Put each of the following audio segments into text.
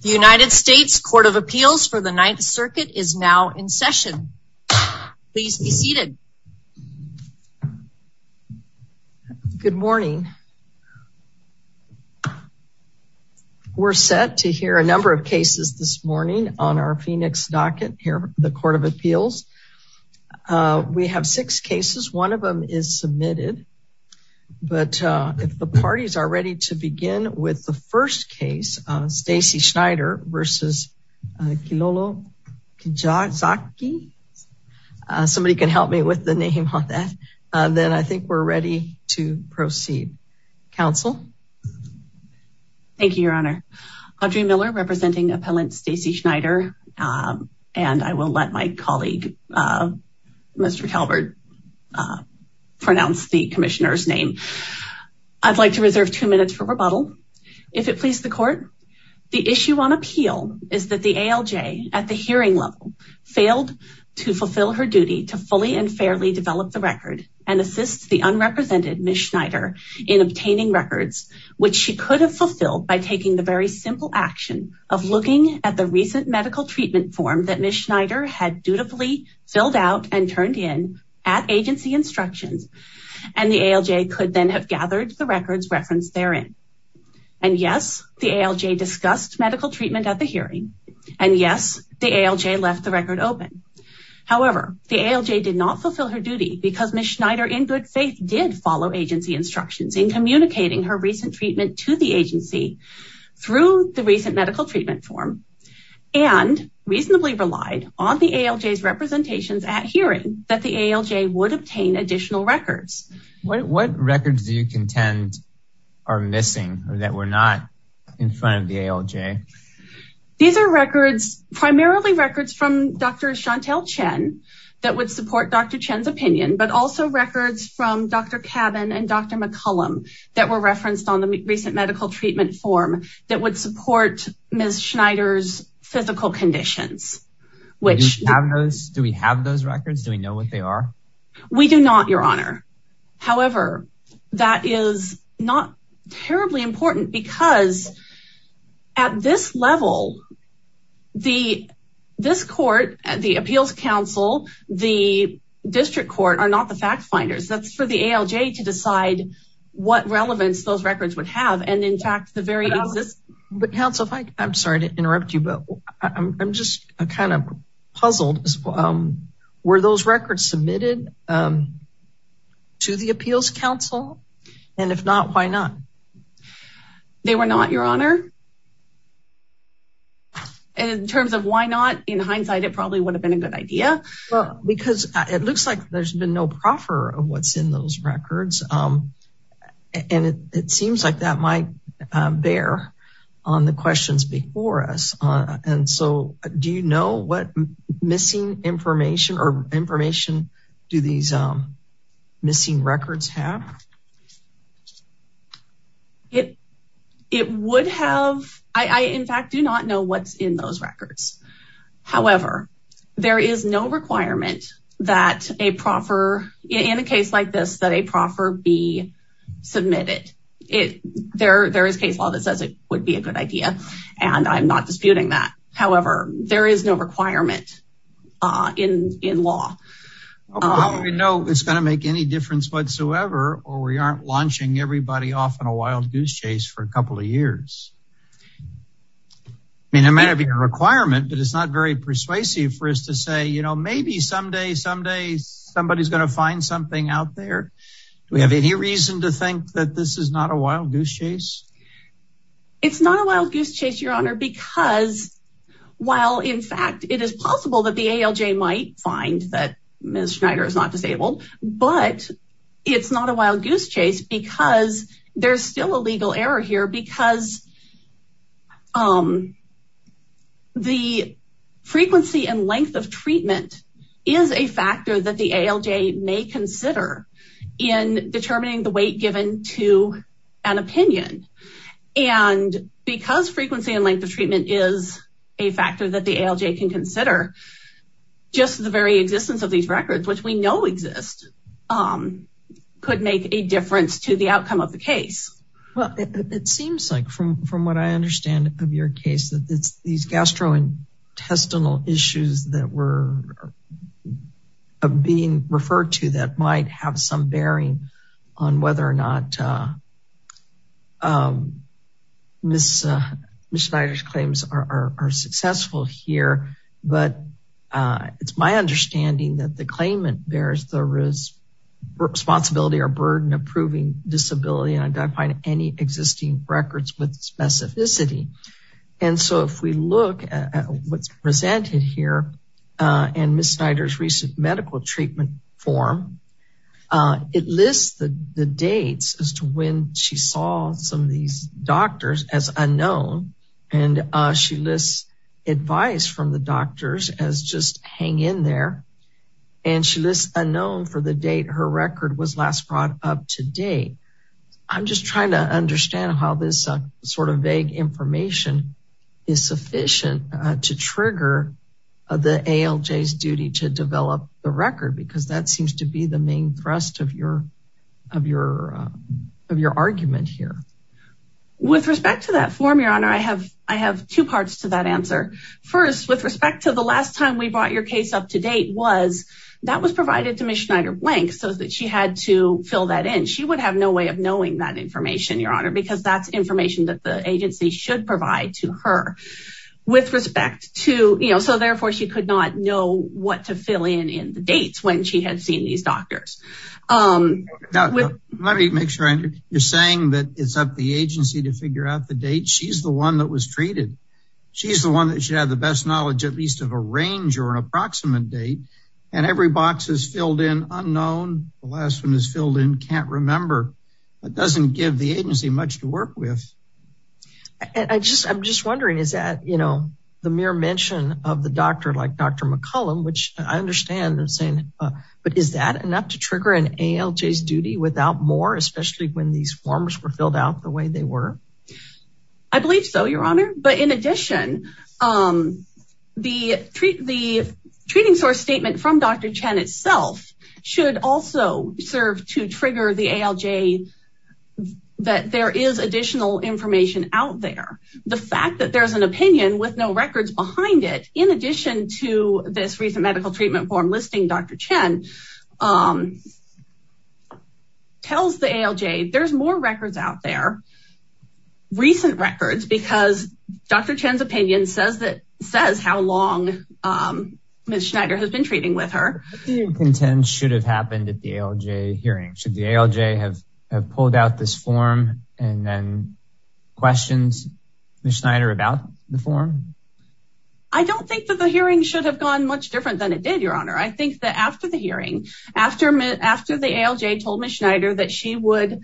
The United States Court of Appeals for the Ninth Circuit is now in session. Please be seated. Good morning. We're set to hear a number of cases this morning on our Phoenix docket here at the Court of Appeals. We have six cases. One of them is submitted, but if the parties are ready to versus Kilolo Kijakazi. Somebody can help me with the name on that. Then I think we're ready to proceed. Counsel. Thank you, Your Honor. Audrey Miller representing appellant Stacey Schneider and I will let my colleague Mr. Talbert pronounce the commissioner's name. I'd like to reserve two if it pleases the court. The issue on appeal is that the ALJ at the hearing level failed to fulfill her duty to fully and fairly develop the record and assist the unrepresented Ms. Schneider in obtaining records, which she could have fulfilled by taking the very simple action of looking at the recent medical treatment form that Ms. Schneider had dutifully filled out and turned in at agency instructions and the ALJ could then have gathered the records referenced therein. And yes, the ALJ discussed medical treatment at the hearing. And yes, the ALJ left the record open. However, the ALJ did not fulfill her duty because Ms. Schneider in good faith did follow agency instructions in communicating her recent treatment to the agency through the recent medical treatment form and reasonably relied on the ALJ's representations at hearing that the ALJ would obtain additional records. What records do you contend are missing that were not in front of the ALJ? These are records primarily records from Dr. Chantel Chen that would support Dr. Chen's opinion but also records from Dr. Cabin and Dr. McCullum that were referenced on the recent medical treatment form that would support Ms. Schneider's physical conditions. Do we have those records? Do we know what they are? We do not, your honor. However, that is not terribly important because at this level, this court, the appeals council, the district court are not the fact finders. That's for the ALJ to decide what relevance those records would have. And in fact, the very existence... I'm kind of puzzled. Were those records submitted to the appeals council? And if not, why not? They were not, your honor. And in terms of why not, in hindsight, it probably would have been a good idea. Because it looks like there's been no proffer of what's in those records. And it seems like that bear on the questions before us. And so do you know what missing information or information do these missing records have? It would have... I, in fact, do not know what's in those records. However, there is no requirement that a proffer in a case like this, that a proffer be submitted. There is case law that says it would be a good idea. And I'm not disputing that. However, there is no requirement in law. We know it's going to make any difference whatsoever, or we aren't launching everybody off in a wild goose chase for a couple of years. I mean, it may not be a requirement, but it's not very persuasive for us to say, you know, maybe someday, somebody is going to find something out there. Do we have any reason to think that this is not a wild goose chase? It's not a wild goose chase, your honor, because while, in fact, it is possible that the ALJ might find that Ms. Schneider is not disabled, but it's not a wild goose chase because there's still a legal error here because the frequency and length of treatment is a factor that the ALJ may consider in determining the weight given to an opinion. And because frequency and length of treatment is a factor that the ALJ can consider, just the very existence of these records, which we know exist, could make a difference to the outcome of the case. Well, it seems like, from what I understand of your case, that it's these gastrointestinal issues that were being referred to that might have some bearing on whether or not Ms. Schneider's claims are successful here. But it's my understanding that the claimant bears the responsibility or burden of proving disability and identifying any existing records with specificity. And so if we look at what's presented here in Ms. Schneider's recent medical treatment form, it lists the dates as to when she saw some of these doctors as unknown. And she lists advice from the doctors as just hang in there. And she lists unknown for the date her record was last brought up to date. I'm just trying to understand how this sort of vague information is sufficient to trigger the ALJ's duty to develop the record, because that seems to be the main thrust of your argument here. With respect to that form, Your Honor, I have two parts to that answer. First, with respect to the last time we brought your case up to date was that was provided to Ms. Schneider. She would have no way of knowing that information, Your Honor, because that's information that the agency should provide to her. With respect to, you know, so therefore, she could not know what to fill in in the dates when she had seen these doctors. Let me make sure you're saying that it's up to the agency to figure out the date. She's the one that was treated. She's the one that should have the best knowledge, at least of a range or an filled in unknown. The last one is filled in can't remember. It doesn't give the agency much to work with. I just I'm just wondering, is that, you know, the mere mention of the doctor like Dr. McCollum, which I understand that saying, but is that enough to trigger an ALJ's duty without more, especially when these forms were filled out the way they were? I believe so, Your Honor. But in itself should also serve to trigger the ALJ that there is additional information out there. The fact that there's an opinion with no records behind it, in addition to this recent medical treatment form listing Dr. Chen tells the ALJ there's more records out there, recent records, because Dr. Chen's opinion says that says how long Ms. Schneider has been treating with her. What do you contend should have happened at the ALJ hearing? Should the ALJ have pulled out this form and then questions Ms. Schneider about the form? I don't think that the hearing should have gone much different than it did, Your Honor. I think that after the hearing, after the ALJ told Ms. Schneider that she would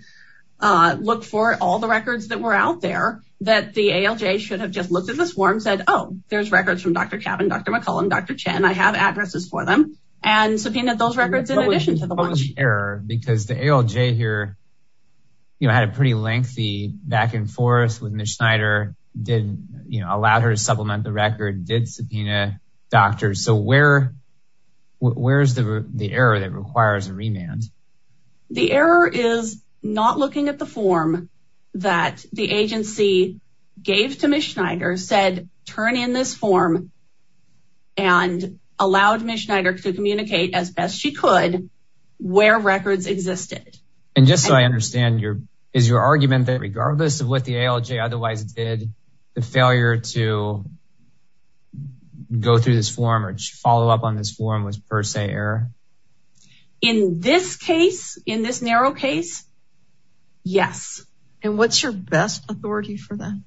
look for all the records that were out there, that the ALJ should have just looked at this form said, oh, there's records from Dr. Cabin, Dr. McCullum, Dr. Chen. I have addresses for them and subpoenaed those records in addition to the watch. What was the error? Because the ALJ here, you know, had a pretty lengthy back and forth with Ms. Schneider, didn't, you know, allowed her to supplement the record, did subpoena doctors. So where's the error that requires a remand? The error is not looking at the form that the agency gave to Ms. Schneider said, turn in this form and allowed Ms. Schneider to communicate as best she could where records existed. And just so I understand your, is your argument that regardless of what the ALJ otherwise did, the failure to go through this form or follow up on this form was per se error? In this case, in this narrow case, yes. And what's your best authority for that?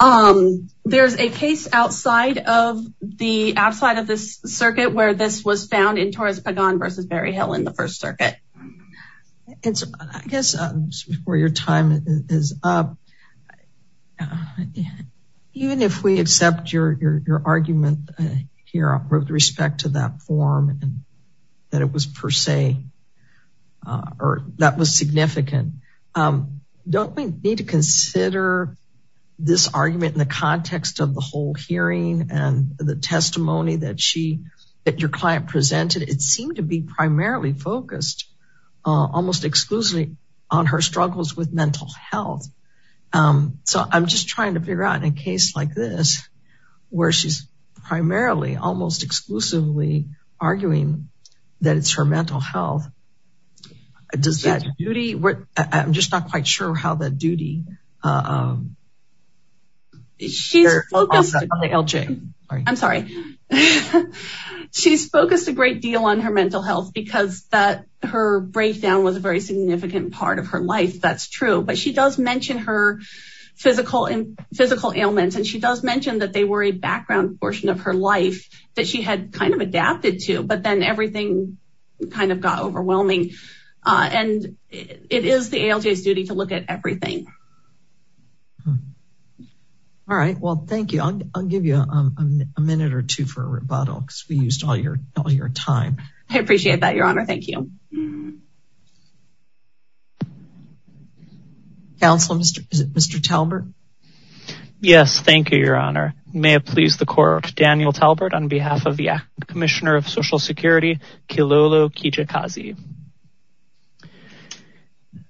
Um, there's a case outside of the outside of this circuit where this was found in Torres Pagan versus Barry Hill in the first circuit. And so I guess before your time is up, and even if we accept your argument here with respect to that form and that it was per se, or that was significant, don't we need to consider this argument in the context of the whole hearing and the testimony that she, that your client presented? It seemed to be primarily focused almost exclusively on her struggles with mental health. Um, so I'm just trying to figure out in a case like this, where she's primarily almost exclusively arguing that it's her mental health. Does that duty, I'm just not quite sure how that duty, um, she's focused on ALJ. I'm sorry. She's focused a great deal on her mental health because that her breakdown was a very significant part of her life. That's true. But she does mention her physical and physical ailments. And she does mention that they were a background portion of her life that she had kind of adapted to, but then everything kind of got overwhelming. And it is the ALJ's duty to look at everything. All right. Well, thank you. I'll give you a minute or two for a rebuttal because we used all your time. I appreciate that. Your honor. Thank you. Counselor, Mr. Talbert. Yes. Thank you, your honor. May it please the court. Daniel Talbert on behalf of the commissioner of social security, Kilolo Kijikazi.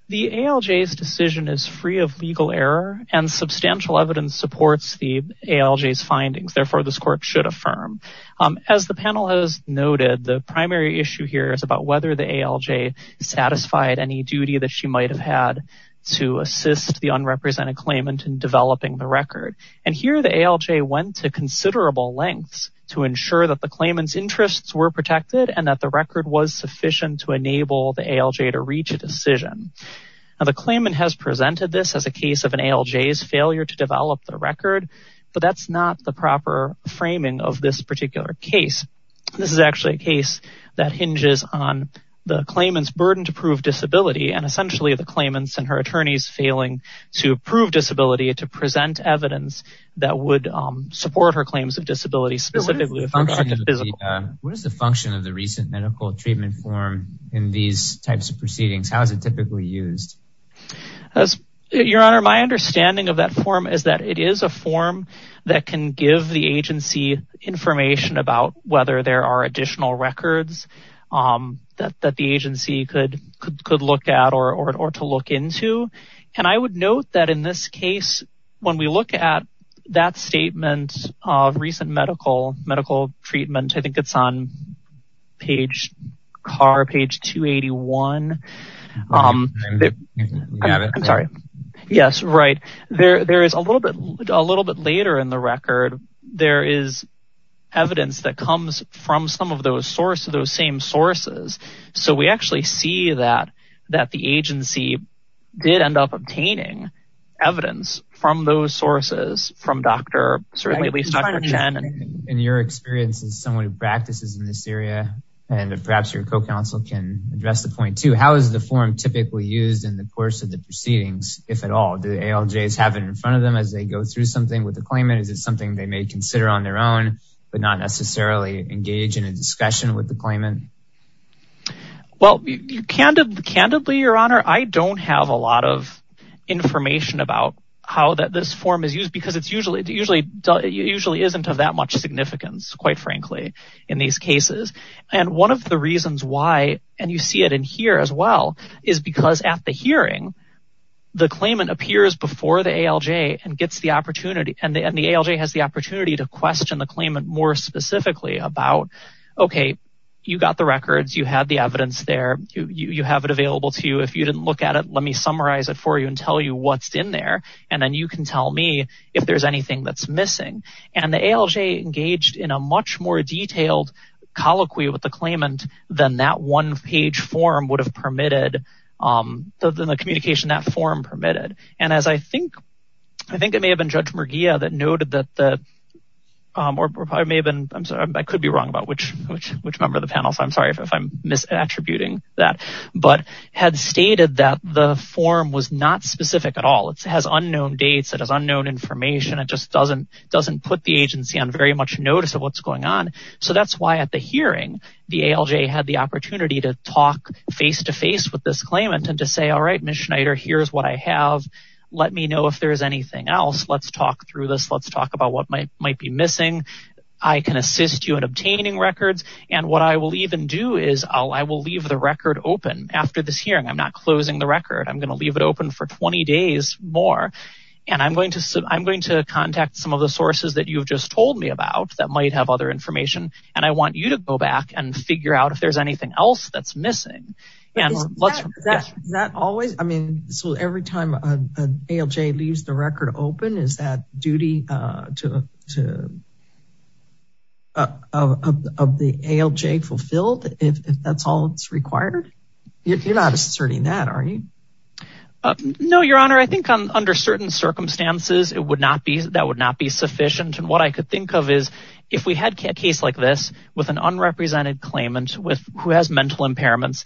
The ALJ's decision is free of legal error and substantial evidence supports the ALJ's findings. Therefore, this court should affirm. Um, as the panel has noted, the primary issue here is about whether the ALJ satisfied any duty that she might've had to assist the unrepresented claimant in developing the record. And here the ALJ went to considerable lengths to ensure that the claimant's interests were protected and that the record was sufficient to enable the ALJ to reach a decision. Now the claimant has presented this as a case of an ALJ's failure to develop the record, but that's not the proper framing of this particular case. This is actually a case that hinges on the claimant's burden to prove disability. And essentially the claimants and her attorneys failing to prove disability to present evidence that would support her claims of disability. What is the function of the recent medical treatment form in these types of proceedings? How is it typically used? Your honor, my understanding of that form is that it is a form that can give the agency information about whether there are additional records that the agency could look at or to look into. And I would note that in this case, when we look at that statement of recent medical treatment, I think it's on page 281. I'm sorry. Yes, right. There is a little bit later in the record, there is evidence that comes from some of those sources, those same sources. So we actually see that the agency did end up obtaining evidence from those sources, from Dr. Chen. In your experience as someone who practices in this area, and perhaps your co-counsel can address the point too, how is the form typically used in the course of the proceedings, if at all? Do ALJs have it in front of them as they go through something with the claimant? Is it something they may consider on their own, but not necessarily engage in a discussion with the claimant? Well, candidly, your honor, I don't have a lot of information about how this form is used because it usually isn't of that much significance, quite frankly, in these cases. And one of the reasons why, and you see it in here as well, is because at the hearing, the claimant appears before the ALJ and gets the opportunity, and the ALJ has the opportunity to question the claimant more specifically about, okay, you got the records, you had the evidence there, you have it available to you. If you didn't look at it, let me summarize it for you and tell you what's in there. And then you can tell me if there's anything that's missing. And the ALJ engaged in a much more detailed colloquy with the claimant than that one-page form would have permitted, than the communication that form permitted. And as I think, I think it may have been Judge Merguia that noted that the, or it may have been, I'm sorry, I could be wrong about which member of the panel, so I'm sorry if I'm misattributing that, but had stated that the form was not specific at all. It has unknown dates, it has unknown information, it just doesn't put the agency on very much notice of what's going on. So that's why at the hearing, the ALJ had the opportunity to talk face-to-face with this claimant and to say, all right, Ms. Schneider, here's what I have. Let me know if there's anything else. Let's talk through this. Let's talk about what might be missing. I can assist you in obtaining records. And what I will even do is I will leave the record open after this hearing. I'm not closing the record. I'm going to leave it open for 20 days more. And I'm going to contact some of the sources that you've just told me about that might have other information. And I want you to go back and figure out if there's anything else that's missing. Is that always, I mean, so every time an ALJ leaves the record open, is that duty of the ALJ fulfilled if that's all it's required? You're not asserting that, are you? No, Your Honor. I think under certain circumstances, it would not be, that would not be sufficient. And what I could think of is if we had a case with an unrepresented claimant who has mental impairments,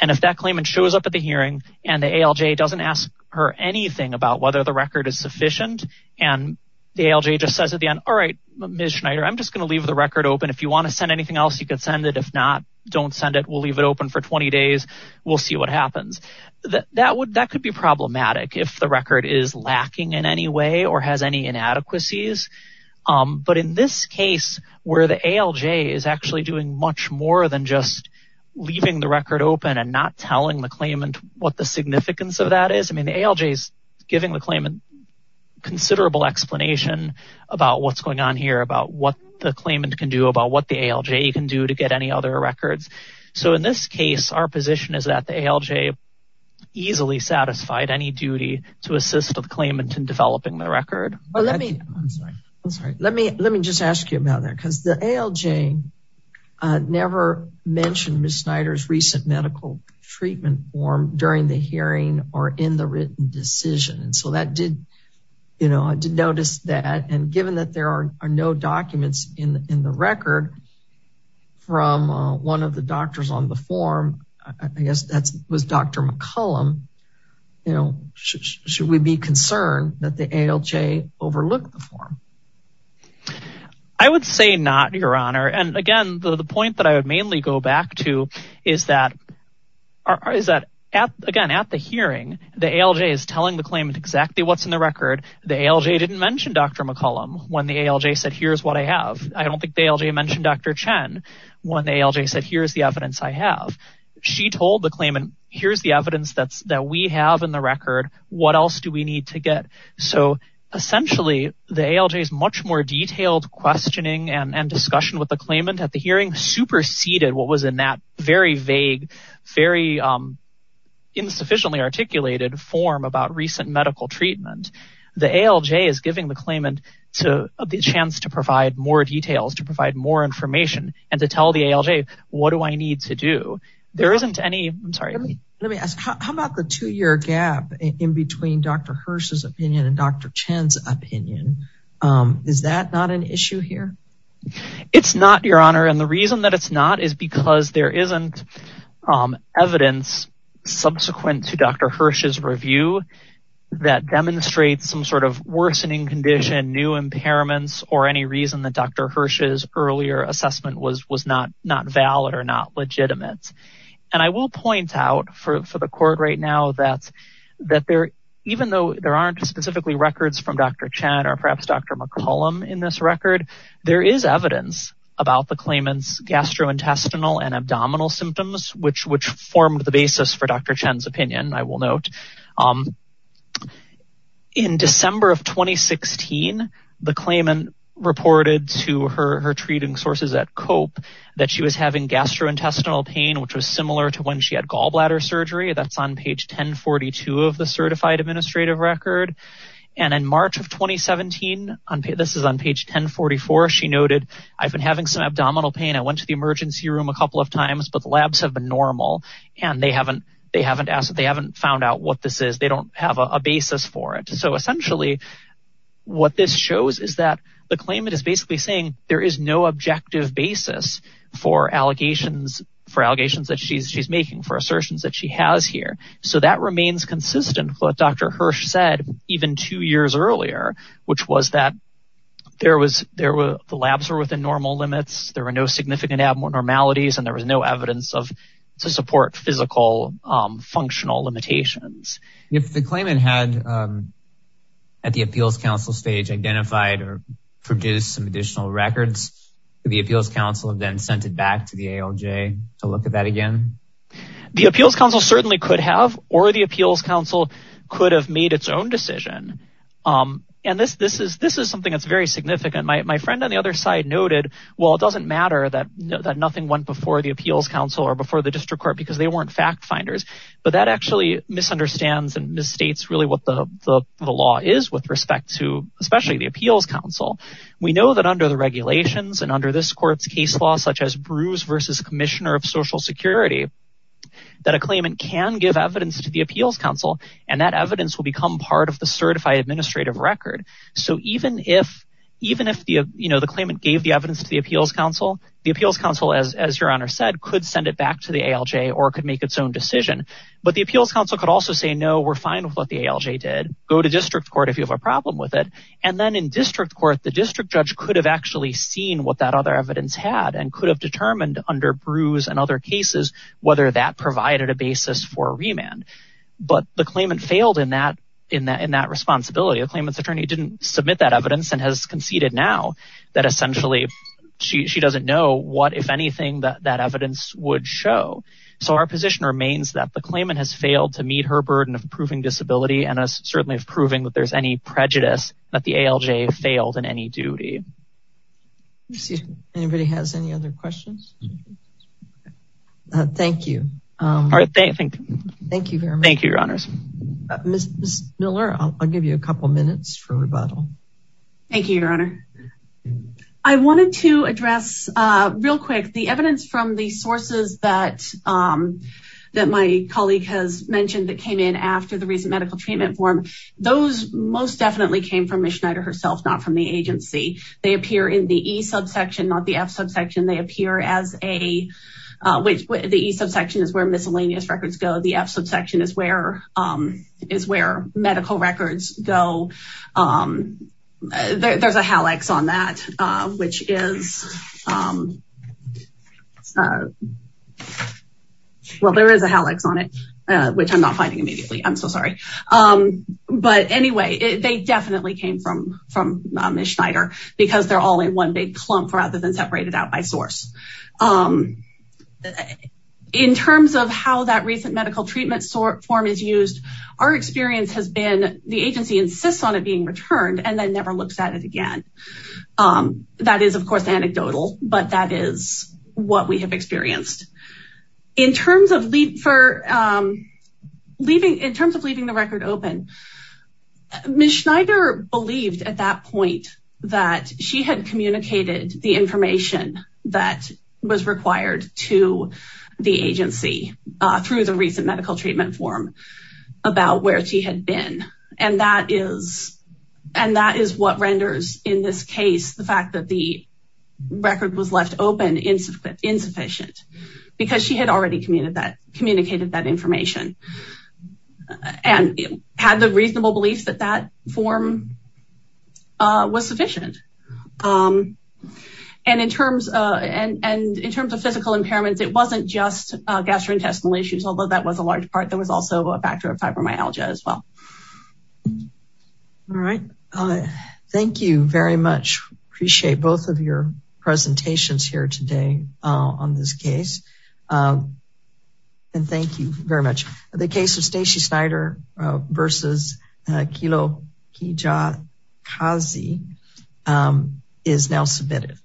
and if that claimant shows up at the hearing and the ALJ doesn't ask her anything about whether the record is sufficient, and the ALJ just says at the end, all right, Ms. Schneider, I'm just going to leave the record open. If you want to send anything else, you can send it. If not, don't send it. We'll leave it open for 20 days. We'll see what happens. That could be problematic if the record is lacking in any or has any inadequacies. But in this case, where the ALJ is actually doing much more than just leaving the record open and not telling the claimant what the significance of that is, I mean, the ALJ is giving the claimant considerable explanation about what's going on here, about what the claimant can do, about what the ALJ can do to get any other records. So in this case, our position is that the ALJ easily satisfied any duty to assist the claimant in developing the record. I'm sorry. Let me just ask you about that, because the ALJ never mentioned Ms. Schneider's recent medical treatment form during the hearing or in the written decision. And so I did notice that. And given that there are no documents in the record from one of the doctors on the form, I guess that was Dr. McCollum, should we be concerned that the ALJ overlooked the form? I would say not, Your Honor. And again, the point that I would mainly go back to is that, again, at the hearing, the ALJ is telling the claimant exactly what's in the record. The ALJ didn't mention Dr. McCollum when the ALJ said, here's what I have. I don't think the ALJ mentioned Dr. Chen when the ALJ said, here's the evidence I have. She told the claimant, here's the evidence that we have in the record. What else do we need to get? So essentially, the ALJ's much more detailed questioning and discussion with the claimant at the hearing superseded what was in that very vague, very insufficiently articulated form about recent medical treatment. The ALJ is giving the claimant the chance to provide more details, to provide more information, and to tell the ALJ, what do I need to do? There isn't any, I'm sorry. Let me ask, how about the two-year gap in between Dr. Hirsch's opinion and Dr. Chen's opinion? Is that not an issue here? It's not, Your Honor. And the reason that it's not is because there isn't evidence subsequent to Dr. Hirsch's review that demonstrates some sort of worsening condition, new impairments, or any reason that Dr. Hirsch's earlier assessment was not valid or not legitimate. And I will point out for the court right now that there, even though there aren't specifically records from Dr. Chen or perhaps Dr. McCollum in this record, there is evidence about the claimant's gastrointestinal and abdominal symptoms, which formed the basis for Dr. Chen's opinion, I will note. In December of 2016, the claimant reported to her treating sources at COPE that she was having gastrointestinal pain, which was similar to when she had gallbladder surgery. That's on page 1042 of the Certified Administrative Record. And in March of 2017, this is on page 1044, she noted, I've been having some abdominal pain. I went to the emergency room a couple of times, but the labs have been normal. And they haven't found out what this is. They don't have a basis for it. So essentially, what this shows is that the claimant is basically saying there is no objective basis for allegations that she's making, for assertions that she has here. So that remains consistent with what Dr. Hirsch said, even two years earlier, which was that the labs were within normal limits, there were no significant abnormalities, and there was no evidence to support physical, functional limitations. If the claimant had, at the records, the Appeals Council have then sent it back to the ALJ to look at that again. The Appeals Council certainly could have, or the Appeals Council could have made its own decision. And this is something that's very significant. My friend on the other side noted, well, it doesn't matter that nothing went before the Appeals Council or before the District Court, because they weren't fact finders. But that actually misunderstands and misstates really what the law is with respect to, especially the Appeals Council. We know that under the regulations and under this court's case law, such as Bruce versus Commissioner of Social Security, that a claimant can give evidence to the Appeals Council, and that evidence will become part of the certified administrative record. So even if the claimant gave the evidence to the Appeals Council, the Appeals Council, as your Honor said, could send it back to the ALJ or could make its decision. But the Appeals Council could also say, no, we're fine with what the ALJ did. Go to District Court if you have a problem with it. And then in District Court, the District Judge could have actually seen what that other evidence had and could have determined under Bruce and other cases, whether that provided a basis for remand. But the claimant failed in that responsibility. The claimant's attorney didn't submit that evidence and has conceded now that essentially she doesn't know what, if anything, that evidence would show. So our position remains that the claimant has failed to meet her burden of proving disability and certainly of proving that there's any prejudice that the ALJ failed in any duty. Let's see if anybody has any other questions. Thank you. All right, thank you. Thank you very much. Thank you, Your Honors. Ms. Miller, I'll give you a couple minutes for rebuttal. Thank you, Your Honor. I wanted to address real quick the evidence from the sources that my colleague has mentioned that came in after the recent medical treatment form. Those most definitely came from Ms. Schneider herself, not from the agency. They appear in the E subsection, not the F subsection. They appear as a, the E subsection is where miscellaneous records go. The F subsection is where medical records go. There's a HalEx on that, which is, well, there is a HalEx on it, which I'm not finding immediately. I'm so sorry. But anyway, they definitely came from Ms. Schneider because they're all in one big is used. Our experience has been the agency insists on it being returned and then never looks at it again. That is of course anecdotal, but that is what we have experienced. In terms of leaving the record open, Ms. Schneider believed at that point that she had communicated the information that was required to the agency through the recent medical treatment form about where she had been. That is what renders, in this case, the fact that the record was left open insufficient because she had already communicated that information and had the reasonable belief that that form was sufficient. And in terms of physical impairments, it wasn't just gastrointestinal issues, although that was a large part. There was also a factor of fibromyalgia as well. All right. Thank you very much. Appreciate both of your presentations here today on this case. And thank you very much. The case of Stacey Schneider versus Kilo Kijakazi is now submitted.